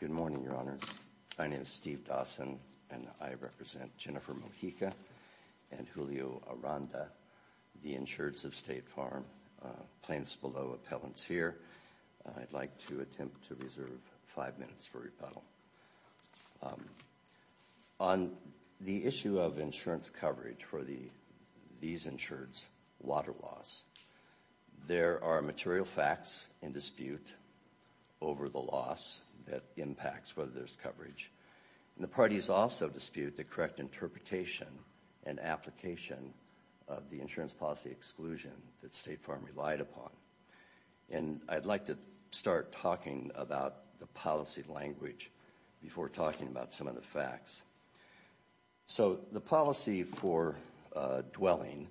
Good morning, Your Honors. My name is Steve Dawson, and I represent Jennifer Mojica and Julio Aranda, the insureds of State Farm. Claims below appellants here. I'd like to attempt to reserve five minutes for rebuttal. On the issue of insurance coverage for these insureds, water loss. There are material facts in dispute over the loss that impacts whether there's coverage. The parties also dispute the correct interpretation and application of the insurance policy exclusion that State Farm relied upon. And I'd like to start talking about the policy language before talking about some of the facts. So the policy for dwelling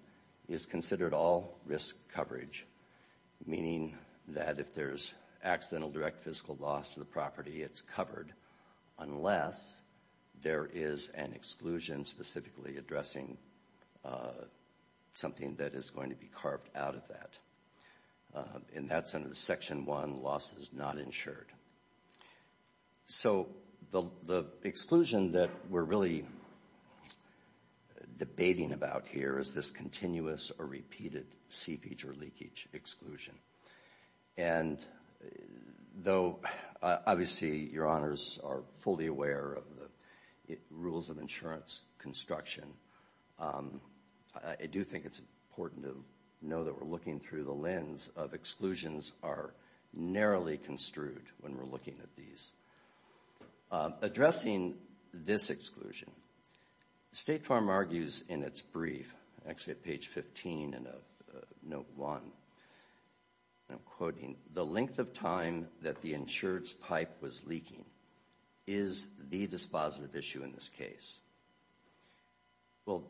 is considered all risk coverage. Meaning that if there's accidental direct physical loss to the property, it's covered. Unless there is an exclusion specifically addressing something that is going to be carved out of that. And that's under the section 1, losses not insured. So the exclusion that we're really debating about here is this continuous or repeated seepage or leakage exclusion. And though obviously Your Honors are fully aware of the rules of insurance construction, I do think it's important to know that we're through the lens of exclusions are narrowly construed when we're looking at these. Addressing this exclusion, State Farm argues in its brief, actually at page 15 in note 1, I'm quoting, the length of time that the insured's pipe was leaking is the dispositive issue in this case. Well,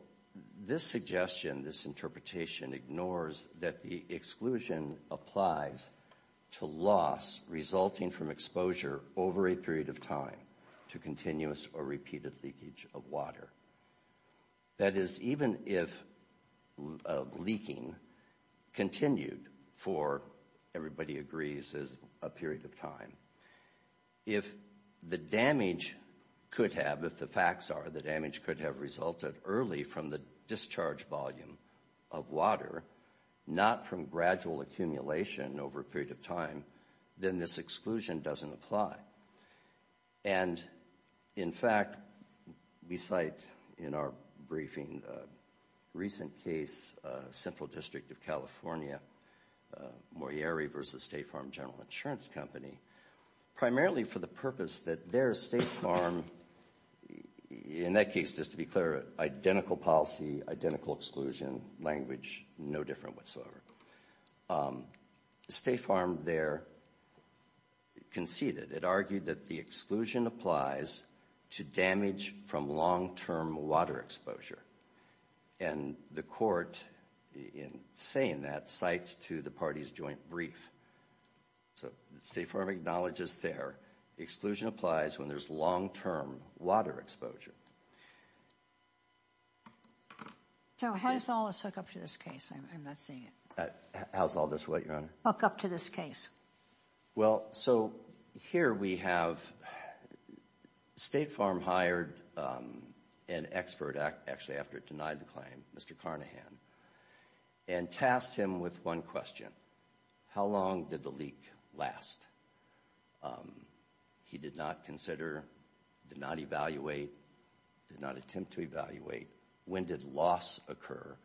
this suggestion, this interpretation ignores that the exclusion applies to loss resulting from exposure over a period of time to continuous or repeated leakage of water. That is, even if leaking continued for, everybody agrees, is a period of time. If the damage could have, if the facts are, the damage could have resulted early from the discharge volume of water, not from gradual accumulation over a period of time, then this exclusion doesn't apply. And in fact, we cite in our briefing a recent case, Central District of California, Morieri versus State Farm General Insurance Company, primarily for the purpose that their State Farm, in that case, just to be clear, identical policy, identical exclusion, language no different whatsoever. State Farm there conceded, it argued that the exclusion applies to damage from long-term water exposure. And the court, in saying that, cites to the party's brief. So, State Farm acknowledges there the exclusion applies when there's long-term water exposure. So, how does all this hook up to this case? I'm not seeing it. How's all this what, Your Honor? Hook up to this case. Well, so, here we have State Farm hired an expert, actually after it denied the claim, Mr. Carnahan, and tasked him with one question. How long did the leak last? He did not consider, did not evaluate, did not attempt to evaluate, when did loss occur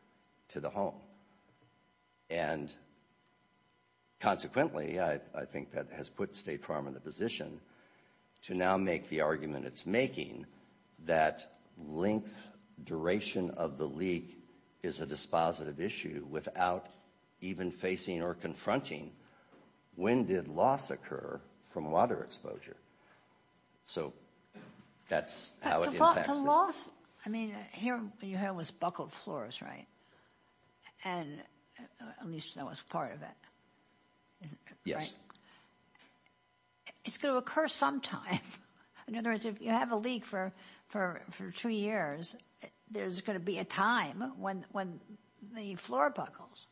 to the home? And consequently, I think that has put State Farm in the position to now make the argument it's making that length, duration of the leak is a dispositive issue without even facing or confronting when did loss occur from water exposure. So, that's how it impacts this. But the loss, I mean, here you have this buckled floors, right? And at least that was part of it. Yes. It's going to occur sometime. In other words, if you have a leak for two years, there's going to be a time when the floor buckles.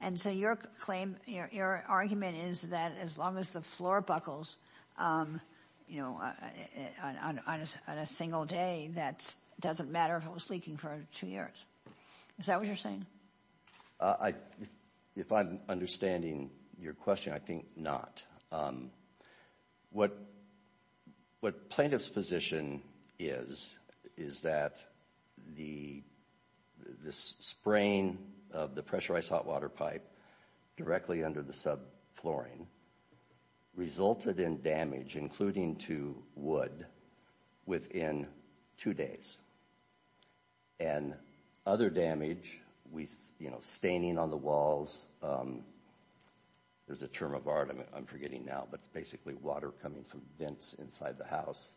And so, your claim, your argument is that as long as the floor buckles, you know, on a single day, that doesn't matter if it was leaking for two years. Is that what you're saying? If I'm understanding your question, I think not. What plaintiff's position is, is that the spraying of the pressurized hot water pipe directly under the sub-flooring resulted in damage, including to wood, within two days. And other damage with, you know, staining on the walls. There's a term of art, I'm forgetting now, but basically water coming from vents inside the house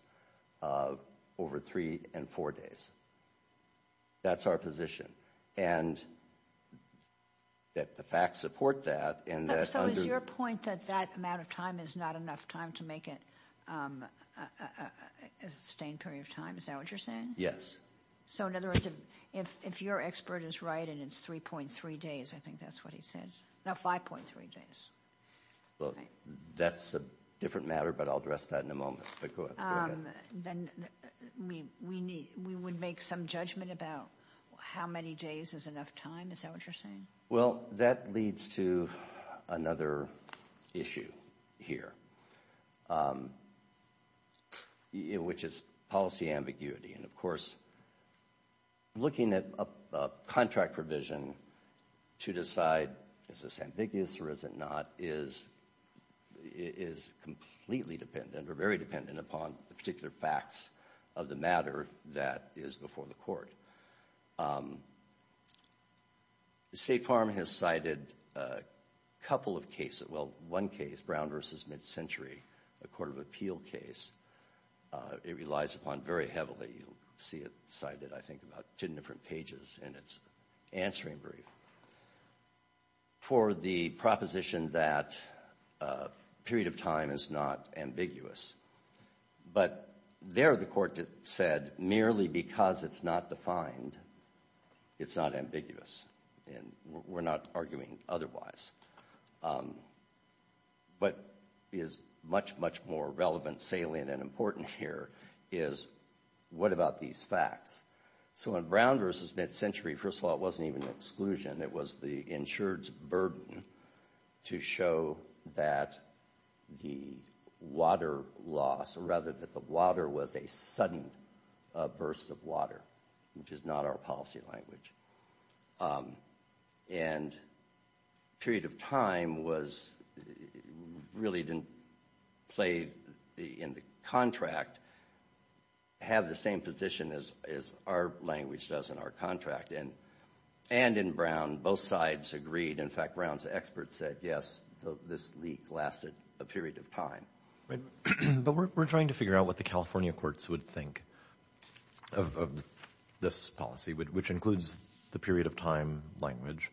over three and four days. That's our position. And that the facts support that. So is your point that that amount of time is not enough time to make it a sustained period of time? Is that what you're saying? Yes. So in other words, if your expert is right and it's 3.3 days, I think that's what he says. No, 5.3 days. Well, that's a different matter, but I'll address that in a moment. Then we would make some judgment about how many days is enough time. Is that what you're saying? Well, that leads to another issue here, which is policy ambiguity. And of course, looking at a contract provision to decide is this ambiguous or is it not, is completely dependent or very dependent upon the particular facts of the matter that is before the court. State Farm has cited a couple of cases. Well, one case, Brown v. Mid-Century, a court of appeal case. It relies upon very heavily. You'll see it cited, I think, about two different pages in its answering brief for the proposition that a period of time is not ambiguous. But there the court said merely because it's not defined, it's not ambiguous. And we're not arguing otherwise. What is much, much more relevant, salient, and important here is what about these facts? So in Brown v. Mid-Century, first of all, it wasn't even exclusion. It was the insured's burden to show that the water loss, or rather that the water was a sudden burst of water, which is not our policy language. And period of time really didn't play in the contract, have the same position as our language does in our contract. And in Brown, both sides agreed. In fact, Brown's experts said, yes, this leak lasted a period of time. But we're trying to figure out what the California courts would think of this policy, which includes the period of time language.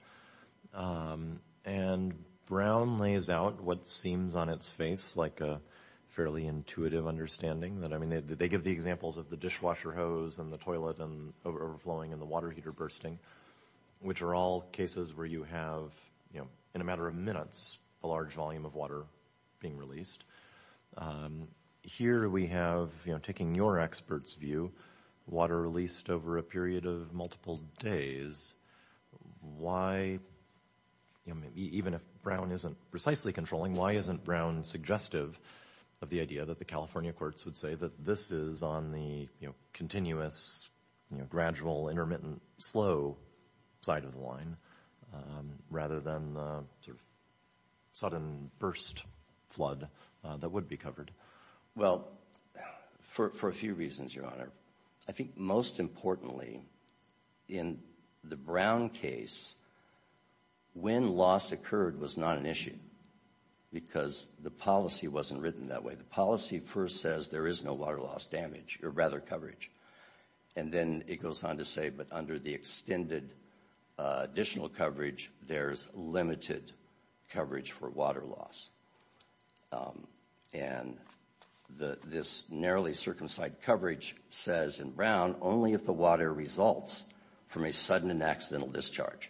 And Brown lays out what seems on its face like a fairly intuitive understanding that, I mean, they give the examples of the dishwasher hose and the toilet and overflowing and the water heater bursting, which are all cases where you have, in a matter of minutes, a large volume of water being released. Here we have, taking your expert's view, water released over a period of multiple days. Why, even if Brown isn't precisely controlling, why isn't Brown suggestive of the California courts would say that this is on the continuous, gradual, intermittent, slow side of the line, rather than the sudden burst flood that would be covered? Well, for a few reasons, Your Honor. I think most importantly, in the Brown case, when loss occurred was not an issue because the policy wasn't written that way. The policy first says there is no water loss damage, or rather coverage. And then it goes on to say, but under the extended additional coverage, there's limited coverage for water loss. And this narrowly circumcised coverage says in Brown, only if the water results from a sudden and accidental discharge.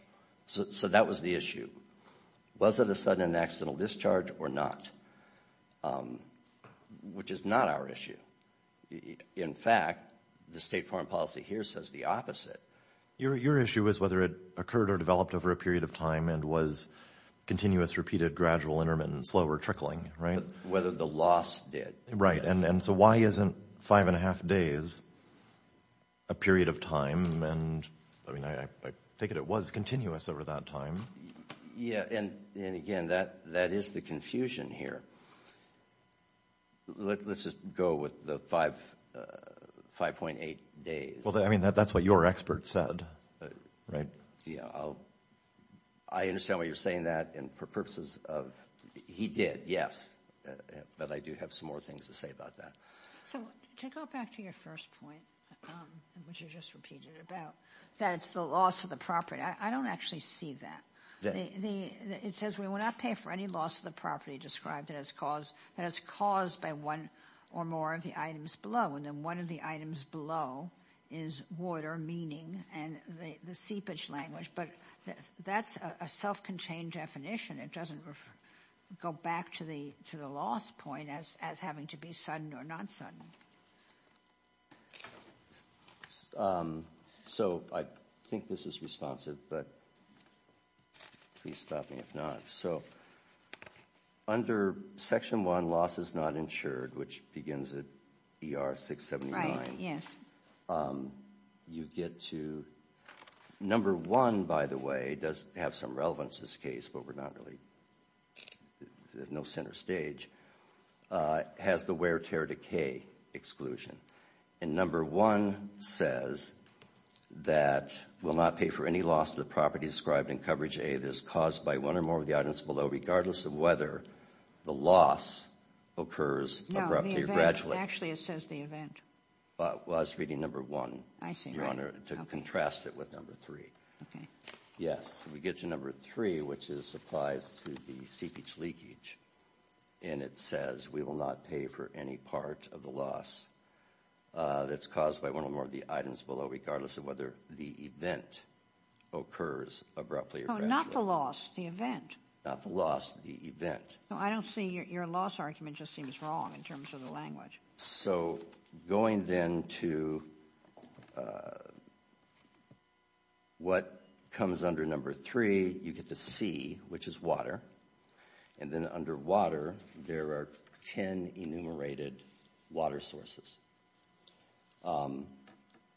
So that was the issue. Was it a sudden and accidental discharge or not? Which is not our issue. In fact, the state foreign policy here says the opposite. Your issue is whether it occurred or developed over a period of time and was continuous, repeated, gradual, intermittent, slow, or trickling, right? Whether the loss did. Right. And so why isn't five and a half days a period of time? And I mean, I take it it was continuous over that time. Yeah. And again, that is the confusion here. Let's just go with the 5.8 days. Well, I mean, that's what your expert said, right? Yeah. I understand why you're saying that. And for purposes of, he did, yes. But I do have some more things to say about that. So to go back to your first point, which you just repeated about, that it's the loss of the property. I don't actually see that. It says we will not pay for any loss of the property described that is caused by one or more of the items below. And then one of the items below is water, meaning, and the seepage language. But that's a self-contained definition. It doesn't go back to the loss point as having to be sudden or not sudden. So I think this is responsive, but please stop me if not. So under section one, loss is not insured, which begins at ER 679. Right. Yes. You get to, number one, by the way, does have some relevance, this case, but we're not really, there's no center stage. Has the wear, tear, decay exclusion. And number one says that we'll not pay for any loss of the property described in coverage A that is caused by one or more of the items below, regardless of whether the loss occurs abruptly or gradually. No, the event. Actually, it says the event. Well, I was reading number one. I see, right. To contrast it with number three. Okay. Yes, we get to number three, which is applies to the seepage leakage. And it says we will not pay for any part of the loss that's caused by one or more of the items below, regardless of whether the event occurs abruptly or gradually. Not the loss, the event. Not the loss, the event. I don't see your loss argument just seems wrong in terms of the language. So going then to what comes under number three, you get to C, which is water. And then under water, there are 10 enumerated water sources.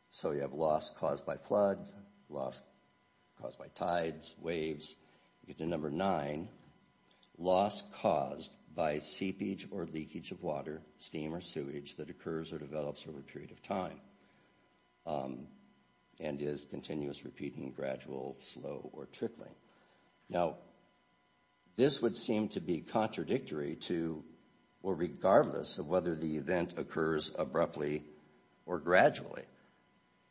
So you have loss caused by flood, loss caused by tides, waves. You get to number nine, loss caused by seepage or leakage of water, steam or sewage that occurs or develops over a period of time. And is continuous, repeating, gradual, slow, or trickling. Now, this would seem to be contradictory to, or regardless of whether the event occurs abruptly or gradually.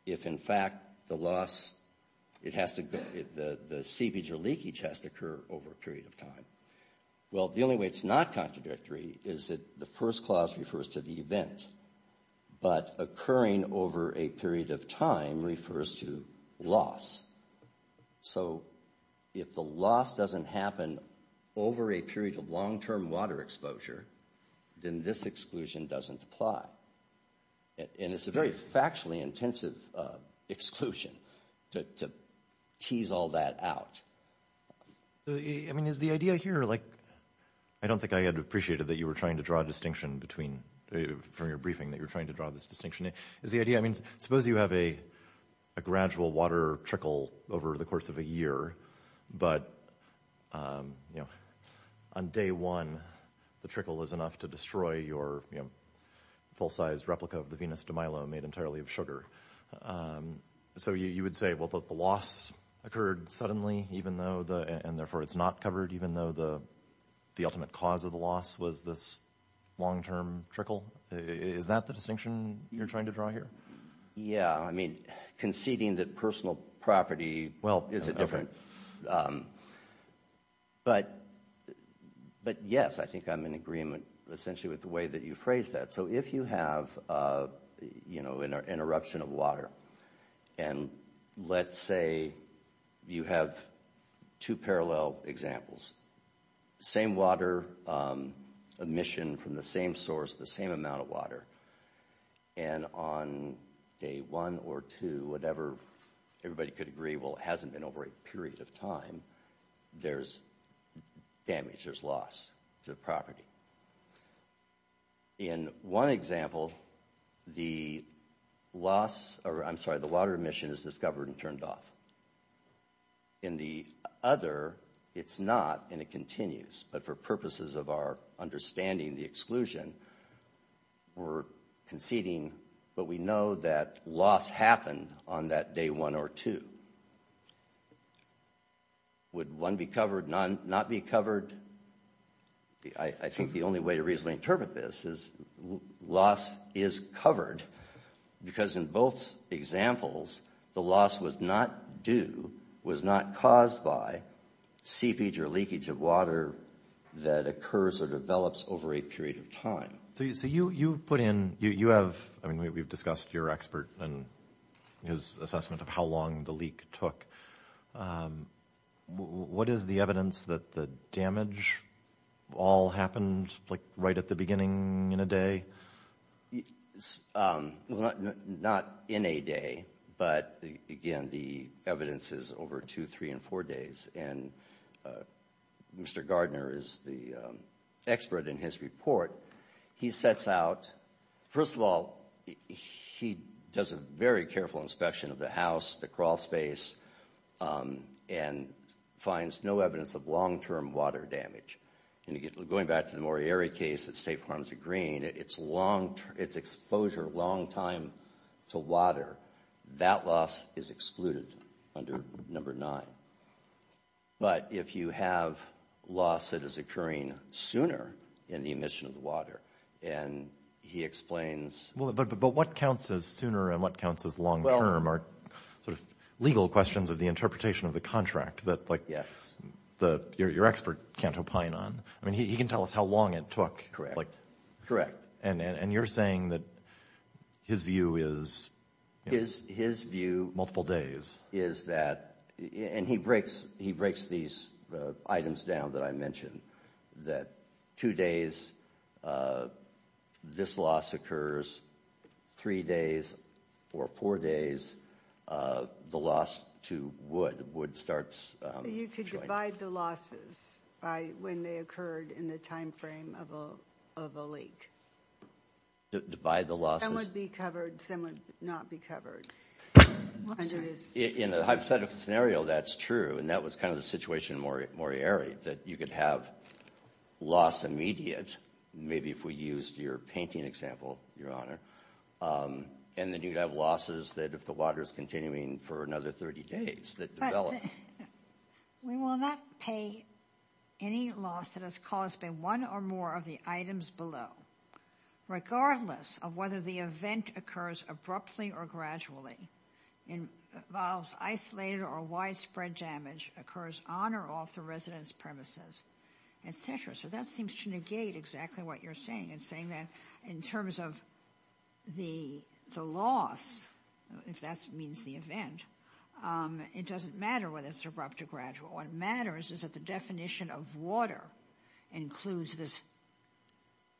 If in fact the loss, the seepage or leakage has to occur over a period of time. Well, the only way it's not contradictory is that the first clause refers to the event. But occurring over a period of time refers to loss. So if the loss doesn't happen over a period of long-term water exposure, then this exclusion doesn't apply. And it's a very factually intensive exclusion to tease all that out. I mean, is the idea here, like, I don't think I had appreciated that you were trying to draw distinction between, from your briefing, that you're trying to draw this distinction. Is the idea, I mean, suppose you have a gradual water trickle over the course of a year, but, you know, on day one, the trickle is enough to destroy your, you know, full-sized replica of the Venus de Milo made entirely of sugar. So you would say, well, the loss occurred suddenly, even though the, and therefore it's not covered, even though the ultimate cause of the loss was this long-term trickle. Is that the distinction you're trying to draw here? Yeah, I mean, conceding that personal property, well, is it different? But yes, I think I'm in agreement, essentially, with the way that you phrased that. So if you have, you know, an eruption of water, and let's say you have two parallel examples, same water emission from the same source, the same amount of water, and on day one or two, whatever, everybody could agree, well, it hasn't been over a period of time, there's damage, there's loss to the property. In one example, the loss, or I'm sorry, the water emission is discovered and turned off. In the other, it's not, and it continues, but for purposes of our understanding, the exclusion, we're conceding, but we know that loss happened on that day one or two. Would one be covered, not be covered? I think the only way to reasonably interpret this is loss is covered, because in both examples, the loss was not due, was not caused by seepage or leakage of water that occurs or develops over a period of time. So you put in, you have, I mean, we've discussed your expert and his assessment of how long the leak took. What is the evidence that the damage all happened, like, right at the beginning in a day? Well, not in a day, but again, the evidence is over two, three, and four days, and Mr. Gardner is the expert in his report. He sets out, first of all, he does a very careful inspection of the house, the crawl space, and finds no evidence of long-term water damage. And you get, going back to the Moriarty case that State Farms are Green, it's long, it's exposure, long time to water. That loss is excluded under number nine. But if you have loss that is occurring sooner in the emission of the water, and he explains... Well, but what counts as sooner and what counts as long-term are sort of legal questions of the I mean, he can tell us how long it took. Correct, correct. And you're saying that his view is... His view... Multiple days. Is that, and he breaks these items down that I mentioned, that two days this loss occurs, three days or four days, the loss to wood starts... You could divide the losses by when they occurred in the time frame of a leak. Divide the losses... Some would be covered, some would not be covered. In the hypothetical scenario, that's true, and that was kind of the situation in Moriarty, that you could have loss immediate, maybe if we used your painting example, Your Honor, and then you'd have losses that if the water is continuing for another 30 days that develop. We will not pay any loss that is caused by one or more of the items below, regardless of whether the event occurs abruptly or gradually, and involves isolated or widespread damage occurs on or off the residence premises, etc. So that seems to negate exactly what you're saying, and saying that in terms of the loss, if that means the event, it doesn't matter whether it's abrupt or gradual. What matters is that the definition of water includes this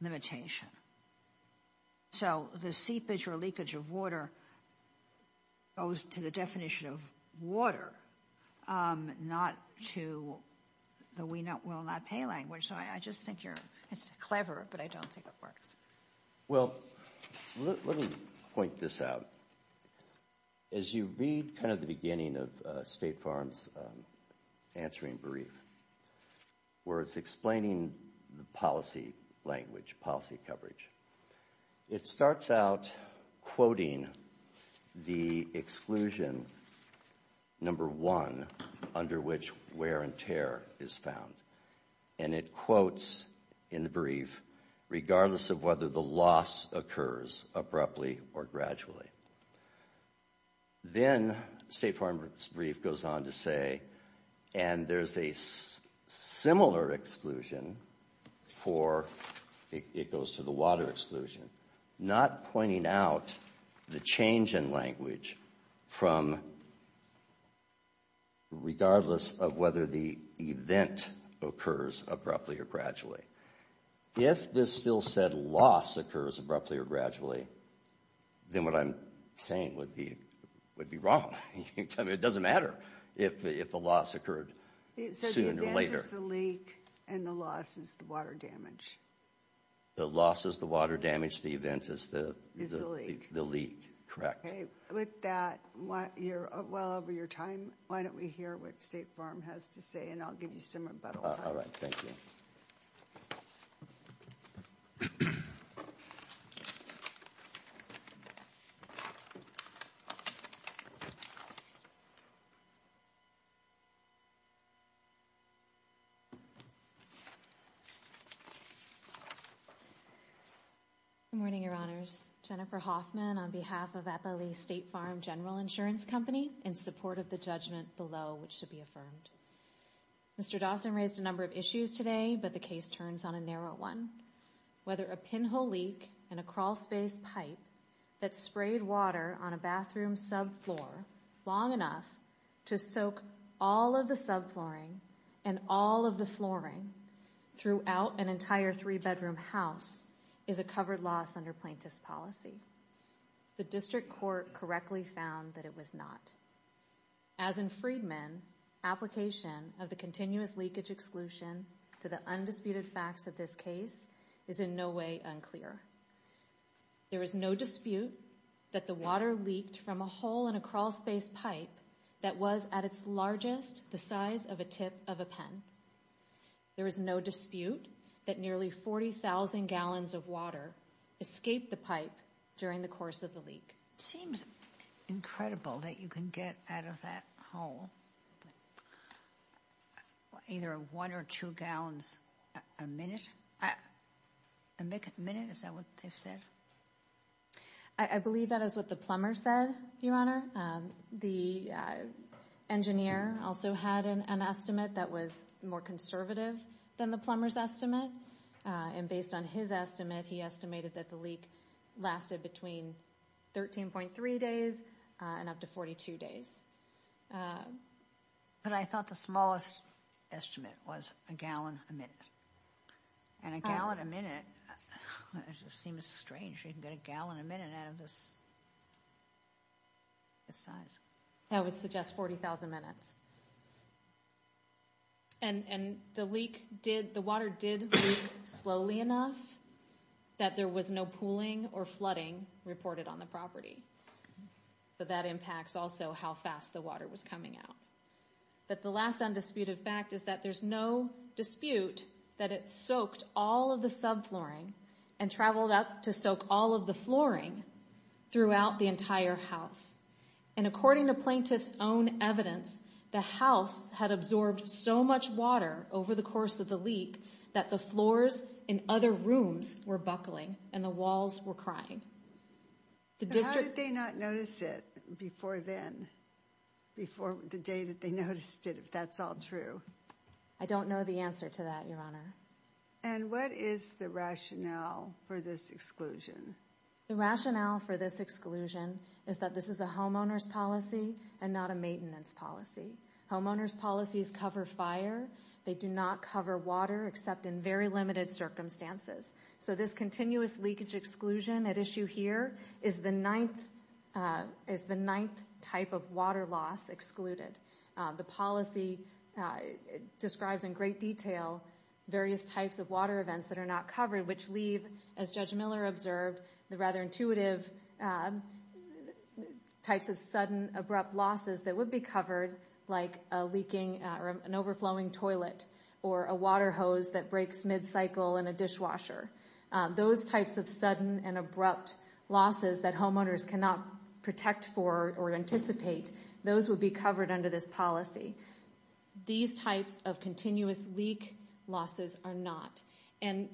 limitation. So the seepage or leakage of water goes to the definition of water, not to the we will not pay language. So I just think you're... It's clever, but I don't think it works. Well, let me point this out. As you read kind of the beginning of State Farm's answering brief, where it's explaining the policy language, policy coverage, it starts out quoting the exclusion number one under which wear and tear is found, and it quotes in the brief, regardless of whether the loss occurs abruptly or gradually. Then State Farm's brief goes on to say, and there's a similar exclusion for... It goes to the water exclusion, not pointing out the change in language from... ...regardless of whether the event occurs abruptly or gradually. If this still said loss occurs abruptly or gradually, then what I'm saying would be wrong. I mean, it doesn't matter if the loss occurred sooner or later. So the event is the leak, and the loss is the water damage. The loss is the water damage, the event is the leak, correct. With that, you're well over your time. Why don't we hear what State Farm has to say, and I'll give you some rebuttal time. All right, thank you. Good morning, Your Honors. Jennifer Hoffman on behalf of Eppley State Farm General Insurance Company in support of the judgment below, which should be affirmed. Mr. Dawson raised a number of issues today, but the case turns on a narrow one. Whether a pinhole leak in a crawlspace pipe that sprayed water on a bathroom subfloor long enough to soak all of the subflooring and all of the flooring throughout an entire three-bedroom house is a covered loss under plaintiff's policy. The district court correctly found that it was not. As in Freedman, application of the continuous leakage exclusion to the undisputed facts of this case is in no way unclear. There is no dispute that the water leaked from a hole in a crawlspace pipe that was at its largest the size of a tip of a pen. There is no dispute that nearly 40,000 gallons of water escaped the pipe during the course of the leak. Seems incredible that you can get out of that hole either one or two gallons a minute. A minute, is that what they've said? I believe that is what the plumber said, Your Honor. The engineer also had an estimate that was more conservative than the plumber's estimate. Based on his estimate, he estimated that the leak lasted between 13.3 days and up to 42 days. I thought the smallest estimate was a gallon a minute. A gallon a minute seems strange. You can get a gallon a minute out of this size. I would suggest 40,000 minutes. The water did leak slowly enough that there was no pooling or flooding reported on the property. That impacts also how fast the water was coming out. The last undisputed fact is that there's no dispute that it soaked all of the subflooring and traveled up to soak all of the flooring throughout the entire house. And according to plaintiff's own evidence, the house had absorbed so much water over the course of the leak that the floors in other rooms were buckling and the walls were crying. How did they not notice it before then? Before the day that they noticed it, if that's all true? I don't know the answer to that, Your Honor. And what is the rationale for this exclusion? The rationale for this exclusion is that this is a homeowner's policy and not a maintenance policy. Homeowner's policies cover fire. They do not cover water except in very limited circumstances. So this continuous leakage exclusion at issue here is the ninth type of water loss excluded. The policy describes in great detail various types of water events that are not covered, which leave, as Judge Miller observed, the rather intuitive types of sudden abrupt losses that would be covered like a leaking or an overflowing toilet or a water hose that breaks mid-cycle in a dishwasher. Those types of sudden and abrupt losses that homeowners cannot protect for or anticipate, those would be covered under this policy. These types of continuous leak losses are not. And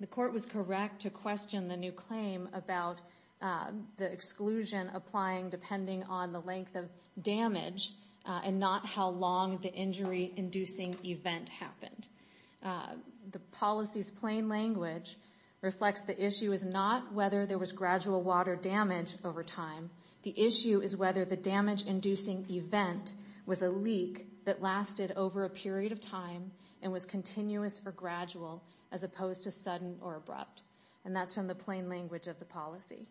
the court was correct to question the new claim about the exclusion applying depending on the length of damage and not how long the injury-inducing event happened. The policy's plain language reflects the issue is not whether there was gradual water damage over time. The issue is whether the damage-inducing event was a leak that lasted over a period of time and was continuous or gradual as opposed to sudden or abrupt. And that's from the plain language of the policy.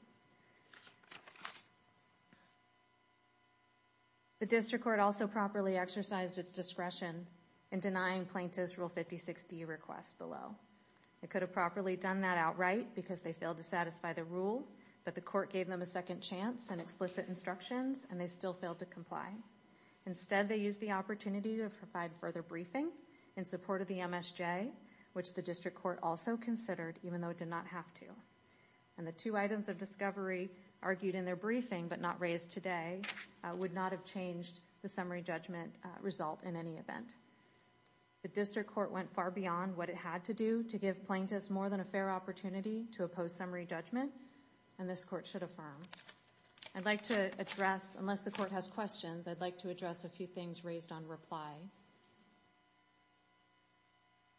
The district court also properly exercised its discretion in denying plaintiffs Rule 56D requests below. They could have properly done that outright because they failed to satisfy the rule, but the court gave them a second chance and explicit instructions and they still failed to comply. Instead, they used the opportunity to provide further briefing in support of the MSJ, which the district court also considered even though it did not have to. And the two items of discovery argued in their briefing but not raised today would not have changed the summary judgment result in any event. The district court went far beyond what it had to do to give plaintiffs more than a fair opportunity to oppose summary judgment and this court should affirm. I'd like to address, unless the court has questions, I'd like to address a few things raised on reply.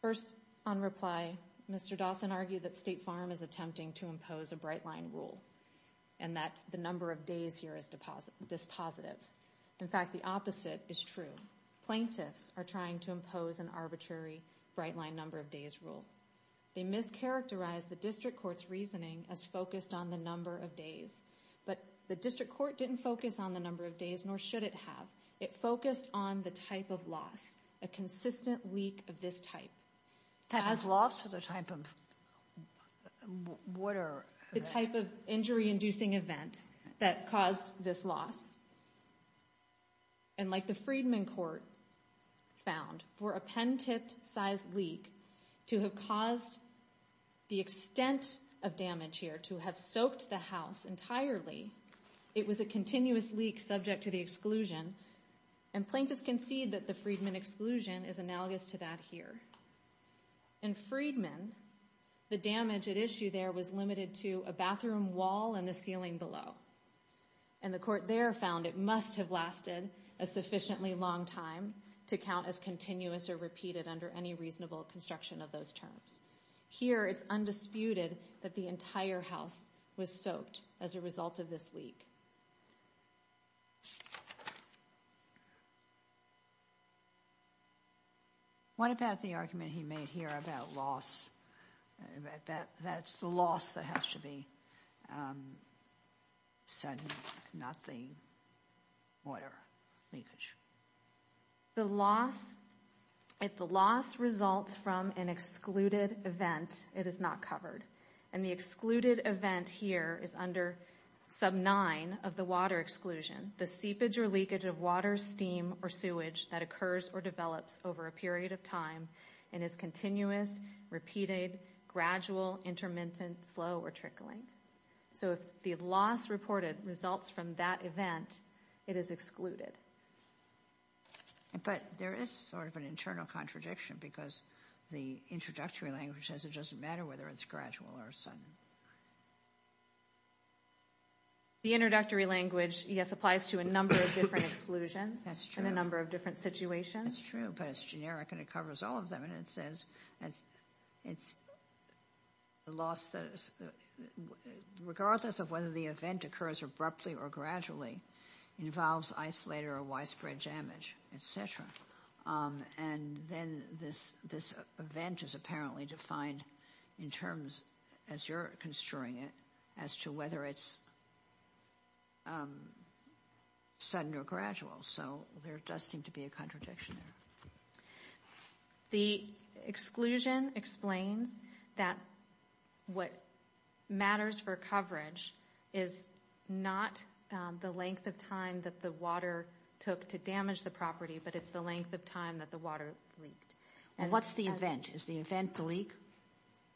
First, on reply, Mr. Dawson argued that State Farm is attempting to impose a bright line rule and that the number of days here is dispositive. In fact, the opposite is true. Plaintiffs are trying to impose an arbitrary bright line number of days rule. They mischaracterized the district court's reasoning as focused on the number of days, but the district court didn't focus on the number of days nor should it have. It focused on the type of loss, a consistent leak of this type. The type of loss or the type of what are... The type of injury-inducing event that caused this loss. And like the Freedman court found for a pen-tipped size leak to have caused the extent of damage here to have soaked the house entirely, it was a continuous leak subject to the exclusion and plaintiffs concede that the Freedman exclusion is analogous to that here. In Freedman, the damage at issue there was limited to a bathroom wall and the ceiling below and the court there found it must have lasted a sufficiently long time to count as continuous or repeated under any reasonable construction of those terms. Here, it's undisputed that the entire house was soaked as a result of this leak. What about the argument he made here about loss? That that's the loss that has to be said, not the water leakage. The loss, if the loss results from an excluded event, it is not covered. And the excluded event here is under sub 9 of the water exclusion. The seepage or leakage of water, steam, or sewage that occurs or develops over a period of time and is continuous, repeated, gradual, intermittent, slow, or trickling. So if the loss reported results from that event, it is excluded. But there is sort of an internal contradiction because the introductory language says it doesn't matter whether it's gradual or sudden. The introductory language, yes, applies to a number of different exclusions. That's true. And a number of different situations. It's true, but it's generic and it covers all of them. And it says, regardless of whether the event occurs abruptly or gradually, involves isolated or widespread damage, etc. And then this event is apparently defined in terms as you're construing it, as to whether it's sudden or gradual. So there does seem to be a contradiction there. The exclusion explains that what matters for coverage is not the length of time that the water took to damage the property, but it's the length of time that the water leaked. And what's the event? Is the event the leak?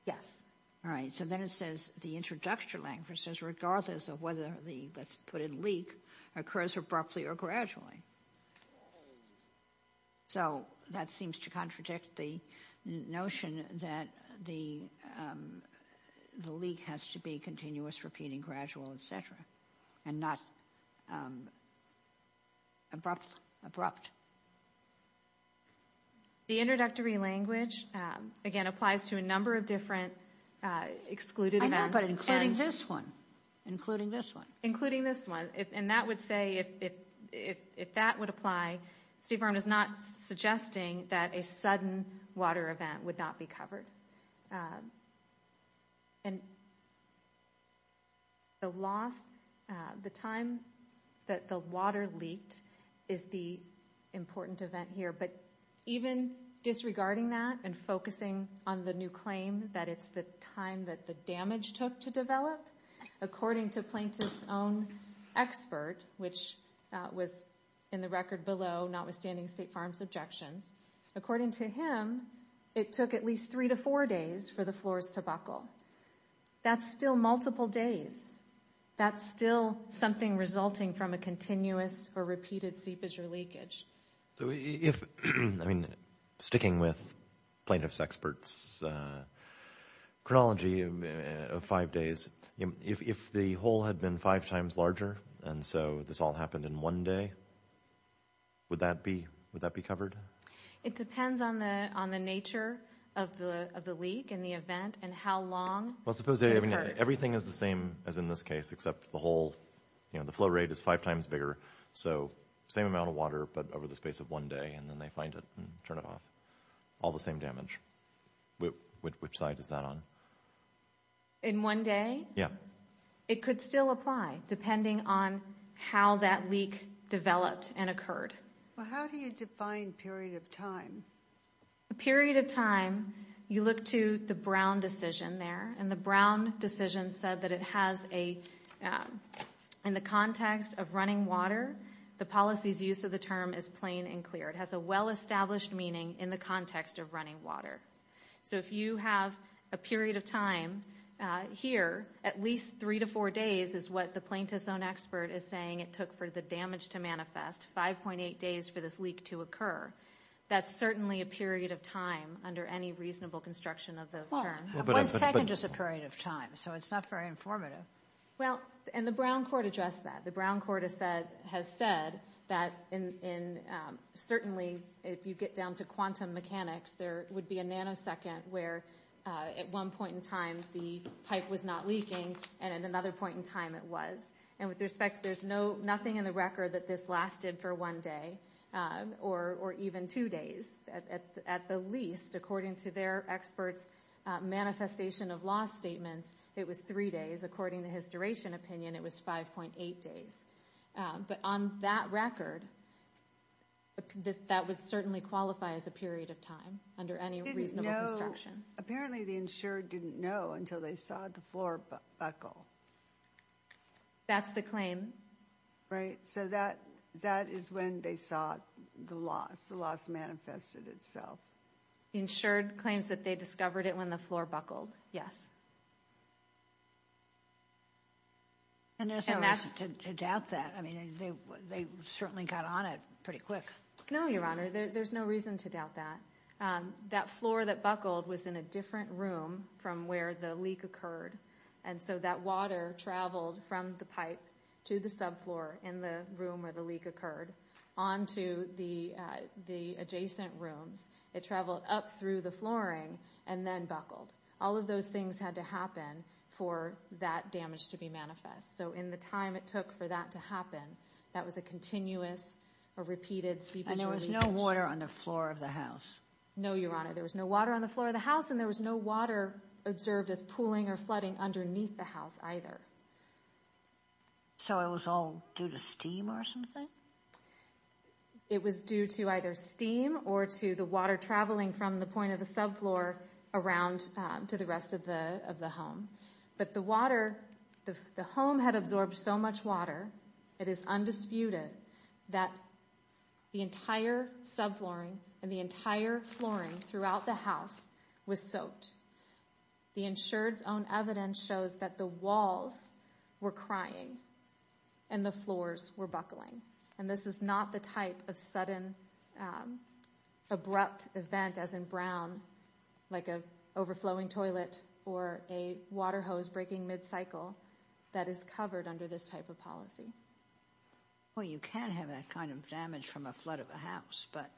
Yes. All right. So then it says the introductory language says regardless of whether the, let's put it, occurs abruptly or gradually. So that seems to contradict the notion that the leak has to be continuous, repeating, gradual, etc. And not abrupt. The introductory language, again, applies to a number of different excluded events. But including this one, including this one. Including this one. And that would say, if that would apply, Steve Arndt is not suggesting that a sudden water event would not be covered. And the loss, the time that the water leaked is the important event here. But even disregarding that and focusing on the new claim that it's the time that the damage took to develop, according to plaintiff's own expert, which was in the record below, notwithstanding State Farm's objections, according to him, it took at least three to four days for the floors to buckle. That's still multiple days. That's still something resulting from a continuous or repeated seepage or leakage. So if, I mean, sticking with plaintiff's expert's chronology of five days, if the hole had been five times larger and so this all happened in one day, would that be covered? It depends on the nature of the leak and the event and how long. Well, suppose everything is the same as in this case, except the hole, the flow rate is five times bigger. So same amount of water but over the space of one day and then they find it and turn it off. All the same damage. Which side is that on? In one day? Yeah. It could still apply depending on how that leak developed and occurred. Well, how do you define period of time? A period of time, you look to the Brown decision there and the Brown decision said that it has a, in the context of running water, the policy's use of the term is plain and clear. It has a well-established meaning in the context of running water. So if you have a period of time here, at least three to four days, is what the plaintiff's own expert is saying it took for the damage to manifest, 5.8 days for this leak to occur. That's certainly a period of time under any reasonable construction of those terms. One second is a period of time, so it's not very informative. Well, and the Brown court addressed that. The Brown court has said that certainly if you get down to quantum mechanics, there would be a nanosecond where at one point in time the pipe was not leaking and at another point in time it was. And with respect, there's nothing in the record that this lasted for one day or even two days at the least, according to their experts' manifestation of loss statements, it was three days. According to his duration opinion, it was 5.8 days. But on that record, that would certainly qualify as a period of time under any reasonable construction. Apparently the insured didn't know until they saw the floor buckle. That's the claim. Right. So that is when they saw the loss. The loss manifested itself. Insured claims that they discovered it when the floor buckled. Yes. And there's no reason to doubt that. I mean, they certainly got on it pretty quick. No, Your Honor, there's no reason to doubt that. That floor that buckled was in a different room from where the leak occurred. And so that water traveled from the pipe to the subfloor in the room where the leak occurred onto the adjacent rooms. It traveled up through the flooring and then buckled. All of those things had to happen for that damage to be manifest. So in the time it took for that to happen, that was a continuous or repeated sequence. And there was no water on the floor of the house? No, Your Honor. There was no water on the floor of the house and there was no water observed as pooling or flooding underneath the house either. So it was all due to steam or something? It was due to either steam or to the water traveling from the point of the subfloor around to the rest of the of the home. But the water, the home had absorbed so much water. It is undisputed that the entire subflooring and the entire flooring throughout the house was soaked. The insured's own evidence shows that the walls were crying and the floors were buckling. And this is not the type of sudden, abrupt event as in Brown, like a overflowing toilet or a water hose breaking mid-cycle that is covered under this type of policy. Well, you can have that kind of damage from a flood of a house, but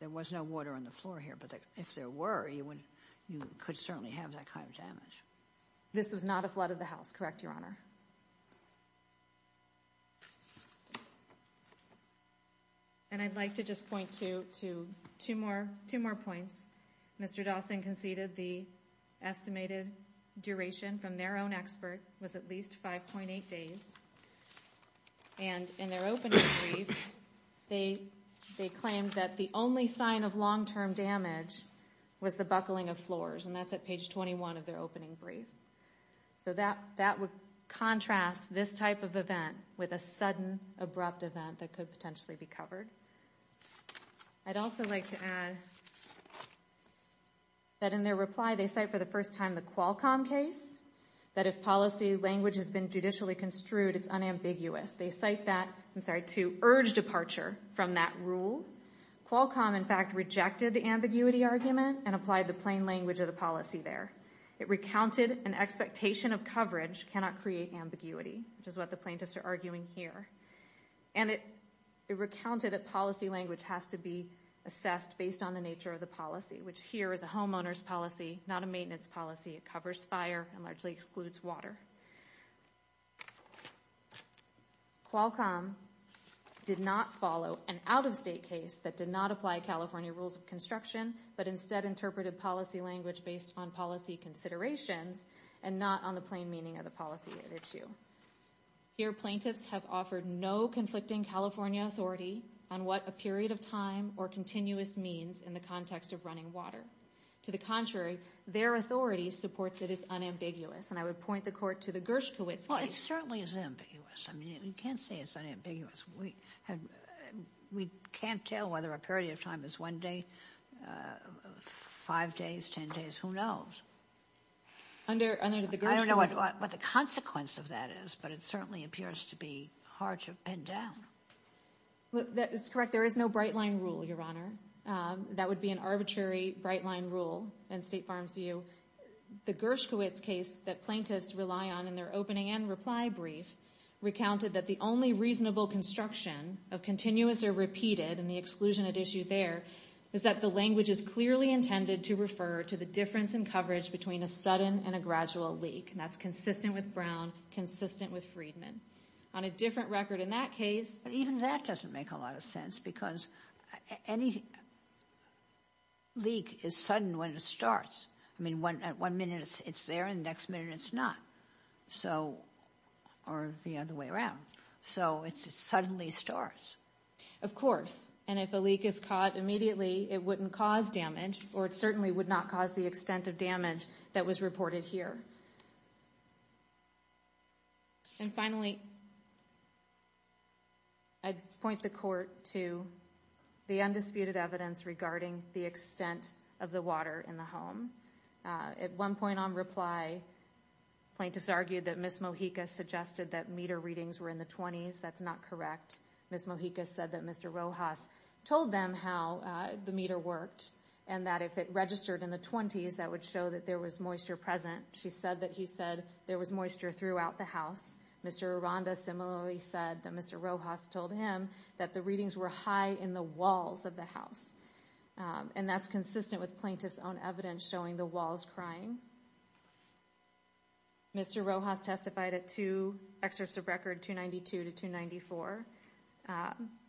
there was no water on the floor here. But if there were, you could certainly have that kind of damage. This was not a flood of the house, correct, Your Honor? And I'd like to just point to two more points. Mr. Dawson conceded the estimated duration from their own expert was at least 5.8 days. And in their opening brief, they claimed that the only sign of long-term damage was the buckling of floors. And that's at page 21 of their opening brief. So that would contrast this type of event with a sudden, abrupt event that could potentially be covered. I'd also like to add that in their reply, they cite for the first time the Qualcomm case, that if policy language has been judicially construed, it's unambiguous. They cite that, I'm sorry, to urge departure from that rule. Qualcomm, in fact, rejected the ambiguity argument and applied the plain language of the policy there. It recounted an expectation of coverage cannot create ambiguity, which is what the plaintiffs are arguing here. And it recounted that policy language has to be assessed based on the nature of the policy, which here is a homeowner's policy, not a maintenance policy. It covers fire and largely excludes water. Qualcomm did not follow an out-of-state case that did not apply California rules of construction, but instead interpreted policy language based on policy considerations and not on the plain meaning of the policy at issue. Here, plaintiffs have offered no conflicting California authority on what a period of time or continuous means in the context of running water. To the contrary, their authority supports it as unambiguous. And I would point the court to the Gershkowitz case. Well, it certainly is ambiguous. I mean, you can't say it's unambiguous. We can't tell whether a period of time is one day, five days, ten days, who knows? Under the Gershkowitz... I don't know what the consequence of that is, but it certainly appears to be hard to pin down. That is correct. There is no bright line rule, Your Honor. That would be an arbitrary bright line rule in State Farm's view. The Gershkowitz case that plaintiffs rely on in their opening and reply brief recounted that the only reasonable construction of continuous or repeated and the exclusion at issue there is that the language is clearly intended to refer to the difference in coverage between a sudden and a gradual leak. And that's consistent with Brown, consistent with Friedman. On a different record in that case... Even that doesn't make a lot of sense because any leak is sudden when it starts. I mean, one minute it's there and the next minute it's not. So, or the other way around. So, it suddenly starts. Of course. And if a leak is caught immediately, it wouldn't cause damage or it certainly would not cause the extent of damage that was reported here. And finally, I'd point the Court to the undisputed evidence regarding the extent of the water in the home. At one point on reply, plaintiffs argued that Ms. Mojica suggested that meter readings were in the 20s. That's not correct. Ms. Mojica said that Mr. Rojas told them how the meter worked and that if it registered in the 20s, that would show that there was moisture present. She said that he said there was moisture throughout the house. Mr. Aranda similarly said that Mr. Rojas told him that the readings were high in the walls of the house. And that's consistent with plaintiff's own evidence showing the walls crying. Mr. Rojas testified at two excerpts of record 292 to 294.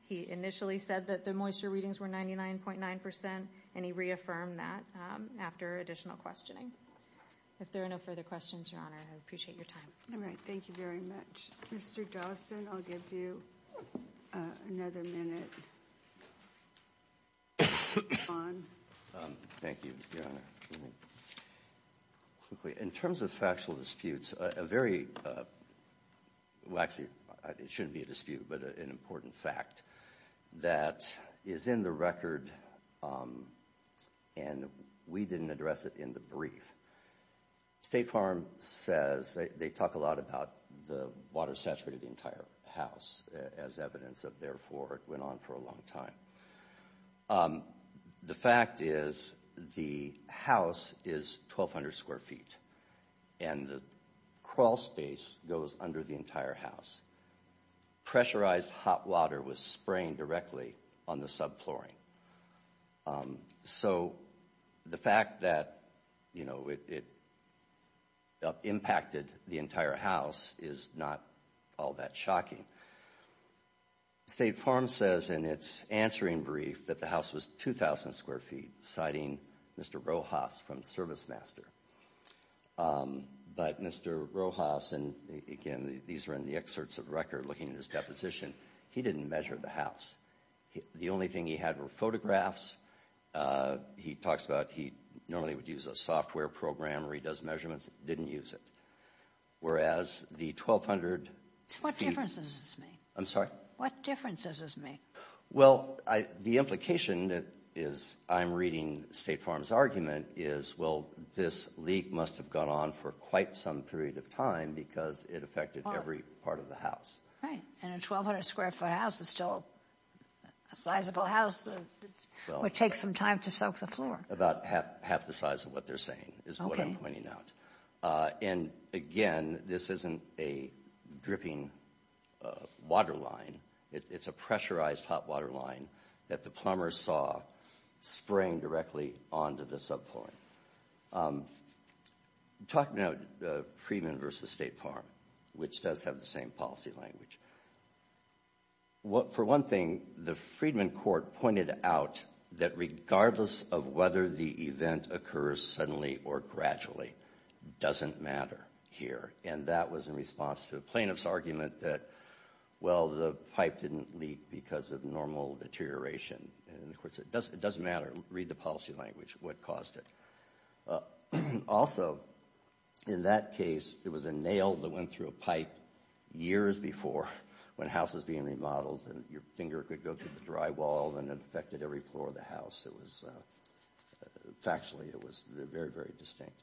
He initially said that the moisture readings were 99.9% and he reaffirmed that after additional questioning. If there are no further questions, Your Honor, I appreciate your time. All right. Thank you very much. Mr. Dawson, I'll give you another minute. Go on. Thank you, Your Honor. In terms of factual disputes, a very, well actually it shouldn't be a dispute, but an important fact that is in the record and we didn't address it in the brief. State Farm says they talk a lot about the water saturated the entire house as evidence of therefore it went on for a long time. The fact is the house is 1200 square feet and the crawl space goes under the entire house. Pressurized hot water was spraying directly on the subflooring. So the fact that, you know, it impacted the entire house is not all that shocking. State Farm says in its answering brief that the house was 2000 square feet, citing Mr. Rojas from Service Master. But Mr. Rojas, and again, these are in the excerpts of record looking at his deposition, he didn't measure the house. The only thing he had were photographs. He talks about he normally would use a software program where he does measurements, didn't use it. Whereas the 1200 feet. So what difference does this make? I'm sorry? What difference does this make? Well, the implication is I'm reading State Farm's argument is, well, this leak must have gone on for quite some period of time because it affected every part of the house. Right. And a 1200 square foot house is still a sizable house that would take some time to soak the About half the size of what they're saying is what I'm pointing out. And again, this isn't a dripping water line. It's a pressurized hot water line that the plumber saw spraying directly onto the subfloor. Talking about the Freedman versus State Farm, which does have the same policy language. For one thing, the Freedman court pointed out that regardless of whether the event occurs suddenly or gradually doesn't matter here. And that was in response to a plaintiff's argument that, well, the pipe didn't leak because of normal deterioration. And of course, it doesn't matter. Read the policy language, what caused it. Also, in that case, it was a nail that went through a pipe years before when houses being remodeled and your finger could go through the drywall and affected every floor of the house. Factually, it was very, very distinct.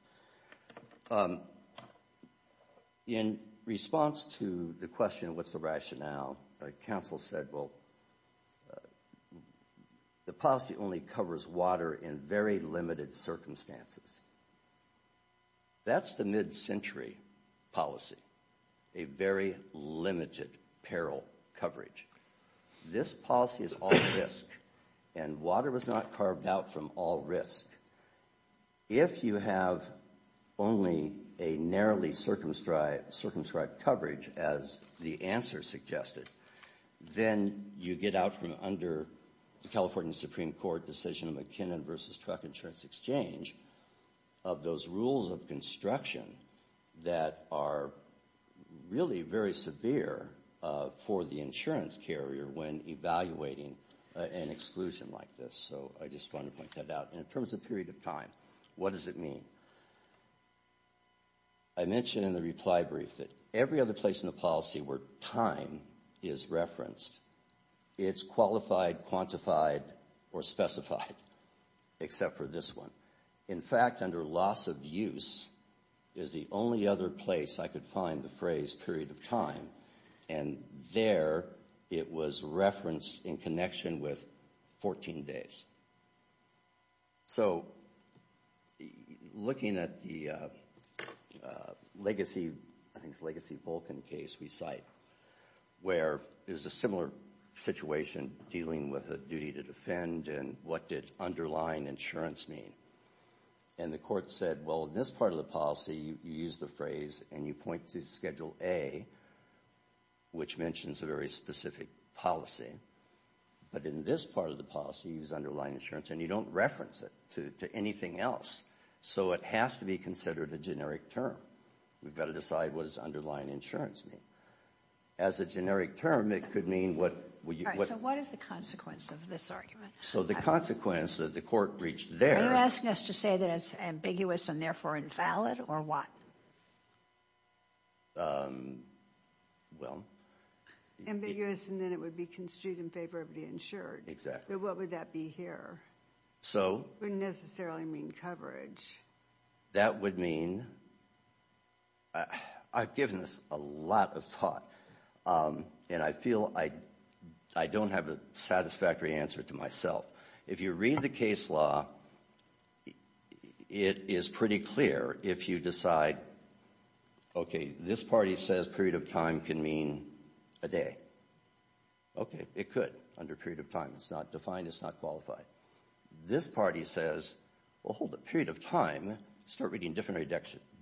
In response to the question, what's the rationale? Council said, well, the policy only covers water in very limited circumstances. That's the mid-century policy, a very limited peril coverage. This policy is all risk, and water was not carved out from all risk. If you have only a narrowly circumscribed coverage, as the answer suggested, then you get out from under the California Supreme Court decision of McKinnon versus Truck Insurance Exchange of those rules of construction that are really very severe for the insurance carrier when evaluating an exclusion like this. So I just wanted to point that out. And in terms of period of time, what does it mean? I mentioned in the reply brief that every other place in the policy where time is referenced, it's qualified, quantified, or specified, except for this one. In fact, under loss of use is the only other place I could find the phrase period of time. And there, it was referenced in connection with 14 days. So looking at the Legacy Vulcan case we cite, where there's a similar situation dealing with a duty to defend, and what did underlying insurance mean? And the court said, well, in this part of the policy, you use the phrase, and you point to Schedule A, which mentions a very specific policy. But in this part of the policy, you use underlying insurance, and you don't reference it to anything else. So it has to be considered a generic term. We've got to decide what its underlying insurance mean. As a generic term, it could mean what... So what is the consequence of this argument? So the consequence that the court reached there... Are you asking us to say that it's ambiguous and therefore invalid, or what? Well... Exactly. So... That would mean... I've given this a lot of thought, and I feel I don't have a satisfactory answer to myself. If you read the case law, it is pretty clear if you decide, okay, this party says period of time can mean a day. Okay, it could, under period of time. It's not defined. It's not qualified. This party says, well, hold up. Period of time, start reading different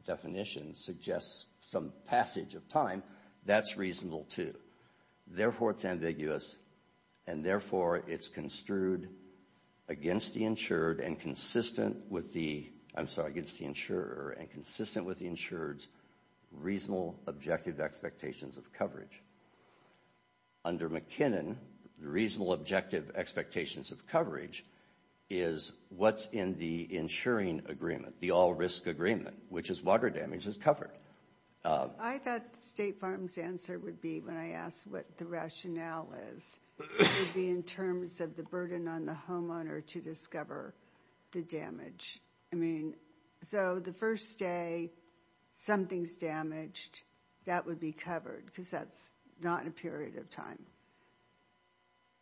definitions, suggests some passage of time. That's reasonable, too. Therefore, it's ambiguous, and therefore, it's construed against the insured and consistent with the... I'm sorry, against the insurer, and consistent with the insured's reasonable, objective expectations of coverage. Under McKinnon, the reasonable, objective expectations of coverage is what's in the insuring agreement, the all-risk agreement, which is water damage is covered. I thought State Farm's answer would be, when I asked what the rationale is, it would be in terms of the burden on the homeowner to discover the damage. I mean, so the first day something's damaged, that would be covered, because that's not a period of time.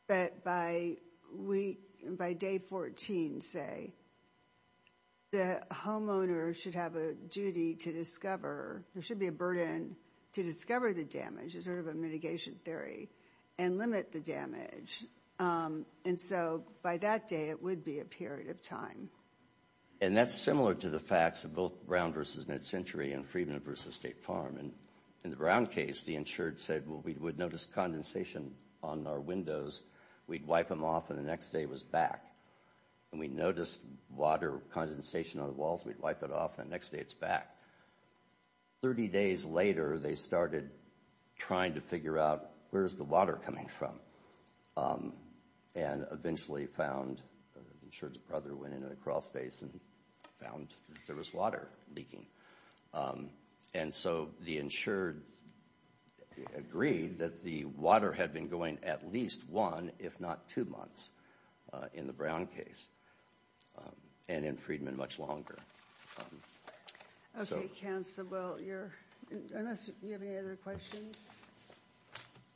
But by day 14, say, the homeowner should have a duty to discover, there should be a burden to discover the damage, as sort of a mitigation theory, and limit the damage. And so by that day, it would be a period of time. And that's similar to the facts of both Brown versus MidCentury and Friedman versus State Farm. In the Brown case, the insured said, well, we would notice condensation on our windows, we'd wipe them off, and the next day it was back. And we noticed water condensation on the walls, we'd wipe it off, and the next day it's back. 30 days later, they started trying to figure out, where's the water coming from? And eventually found, the insured's brother went into the crawl space and found that there was water leaking. And so the insured agreed that the water had been going at least one, if not two months, in the Brown case. And in Friedman, much longer. Okay, Council, unless you have any other questions?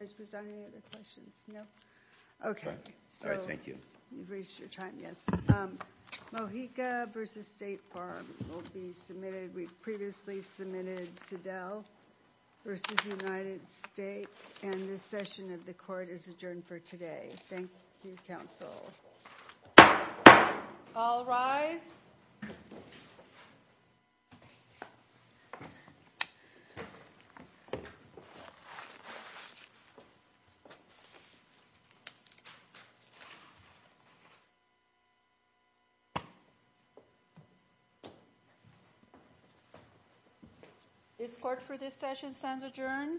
Vice President, any other questions? Okay. All right, thank you. You've reached your time, yes. Mojica versus State Farm will be submitted. We've previously submitted Sedell versus United States, and this session of the court is adjourned for today. Thank you, Council. All rise. This court for this session stands adjourned.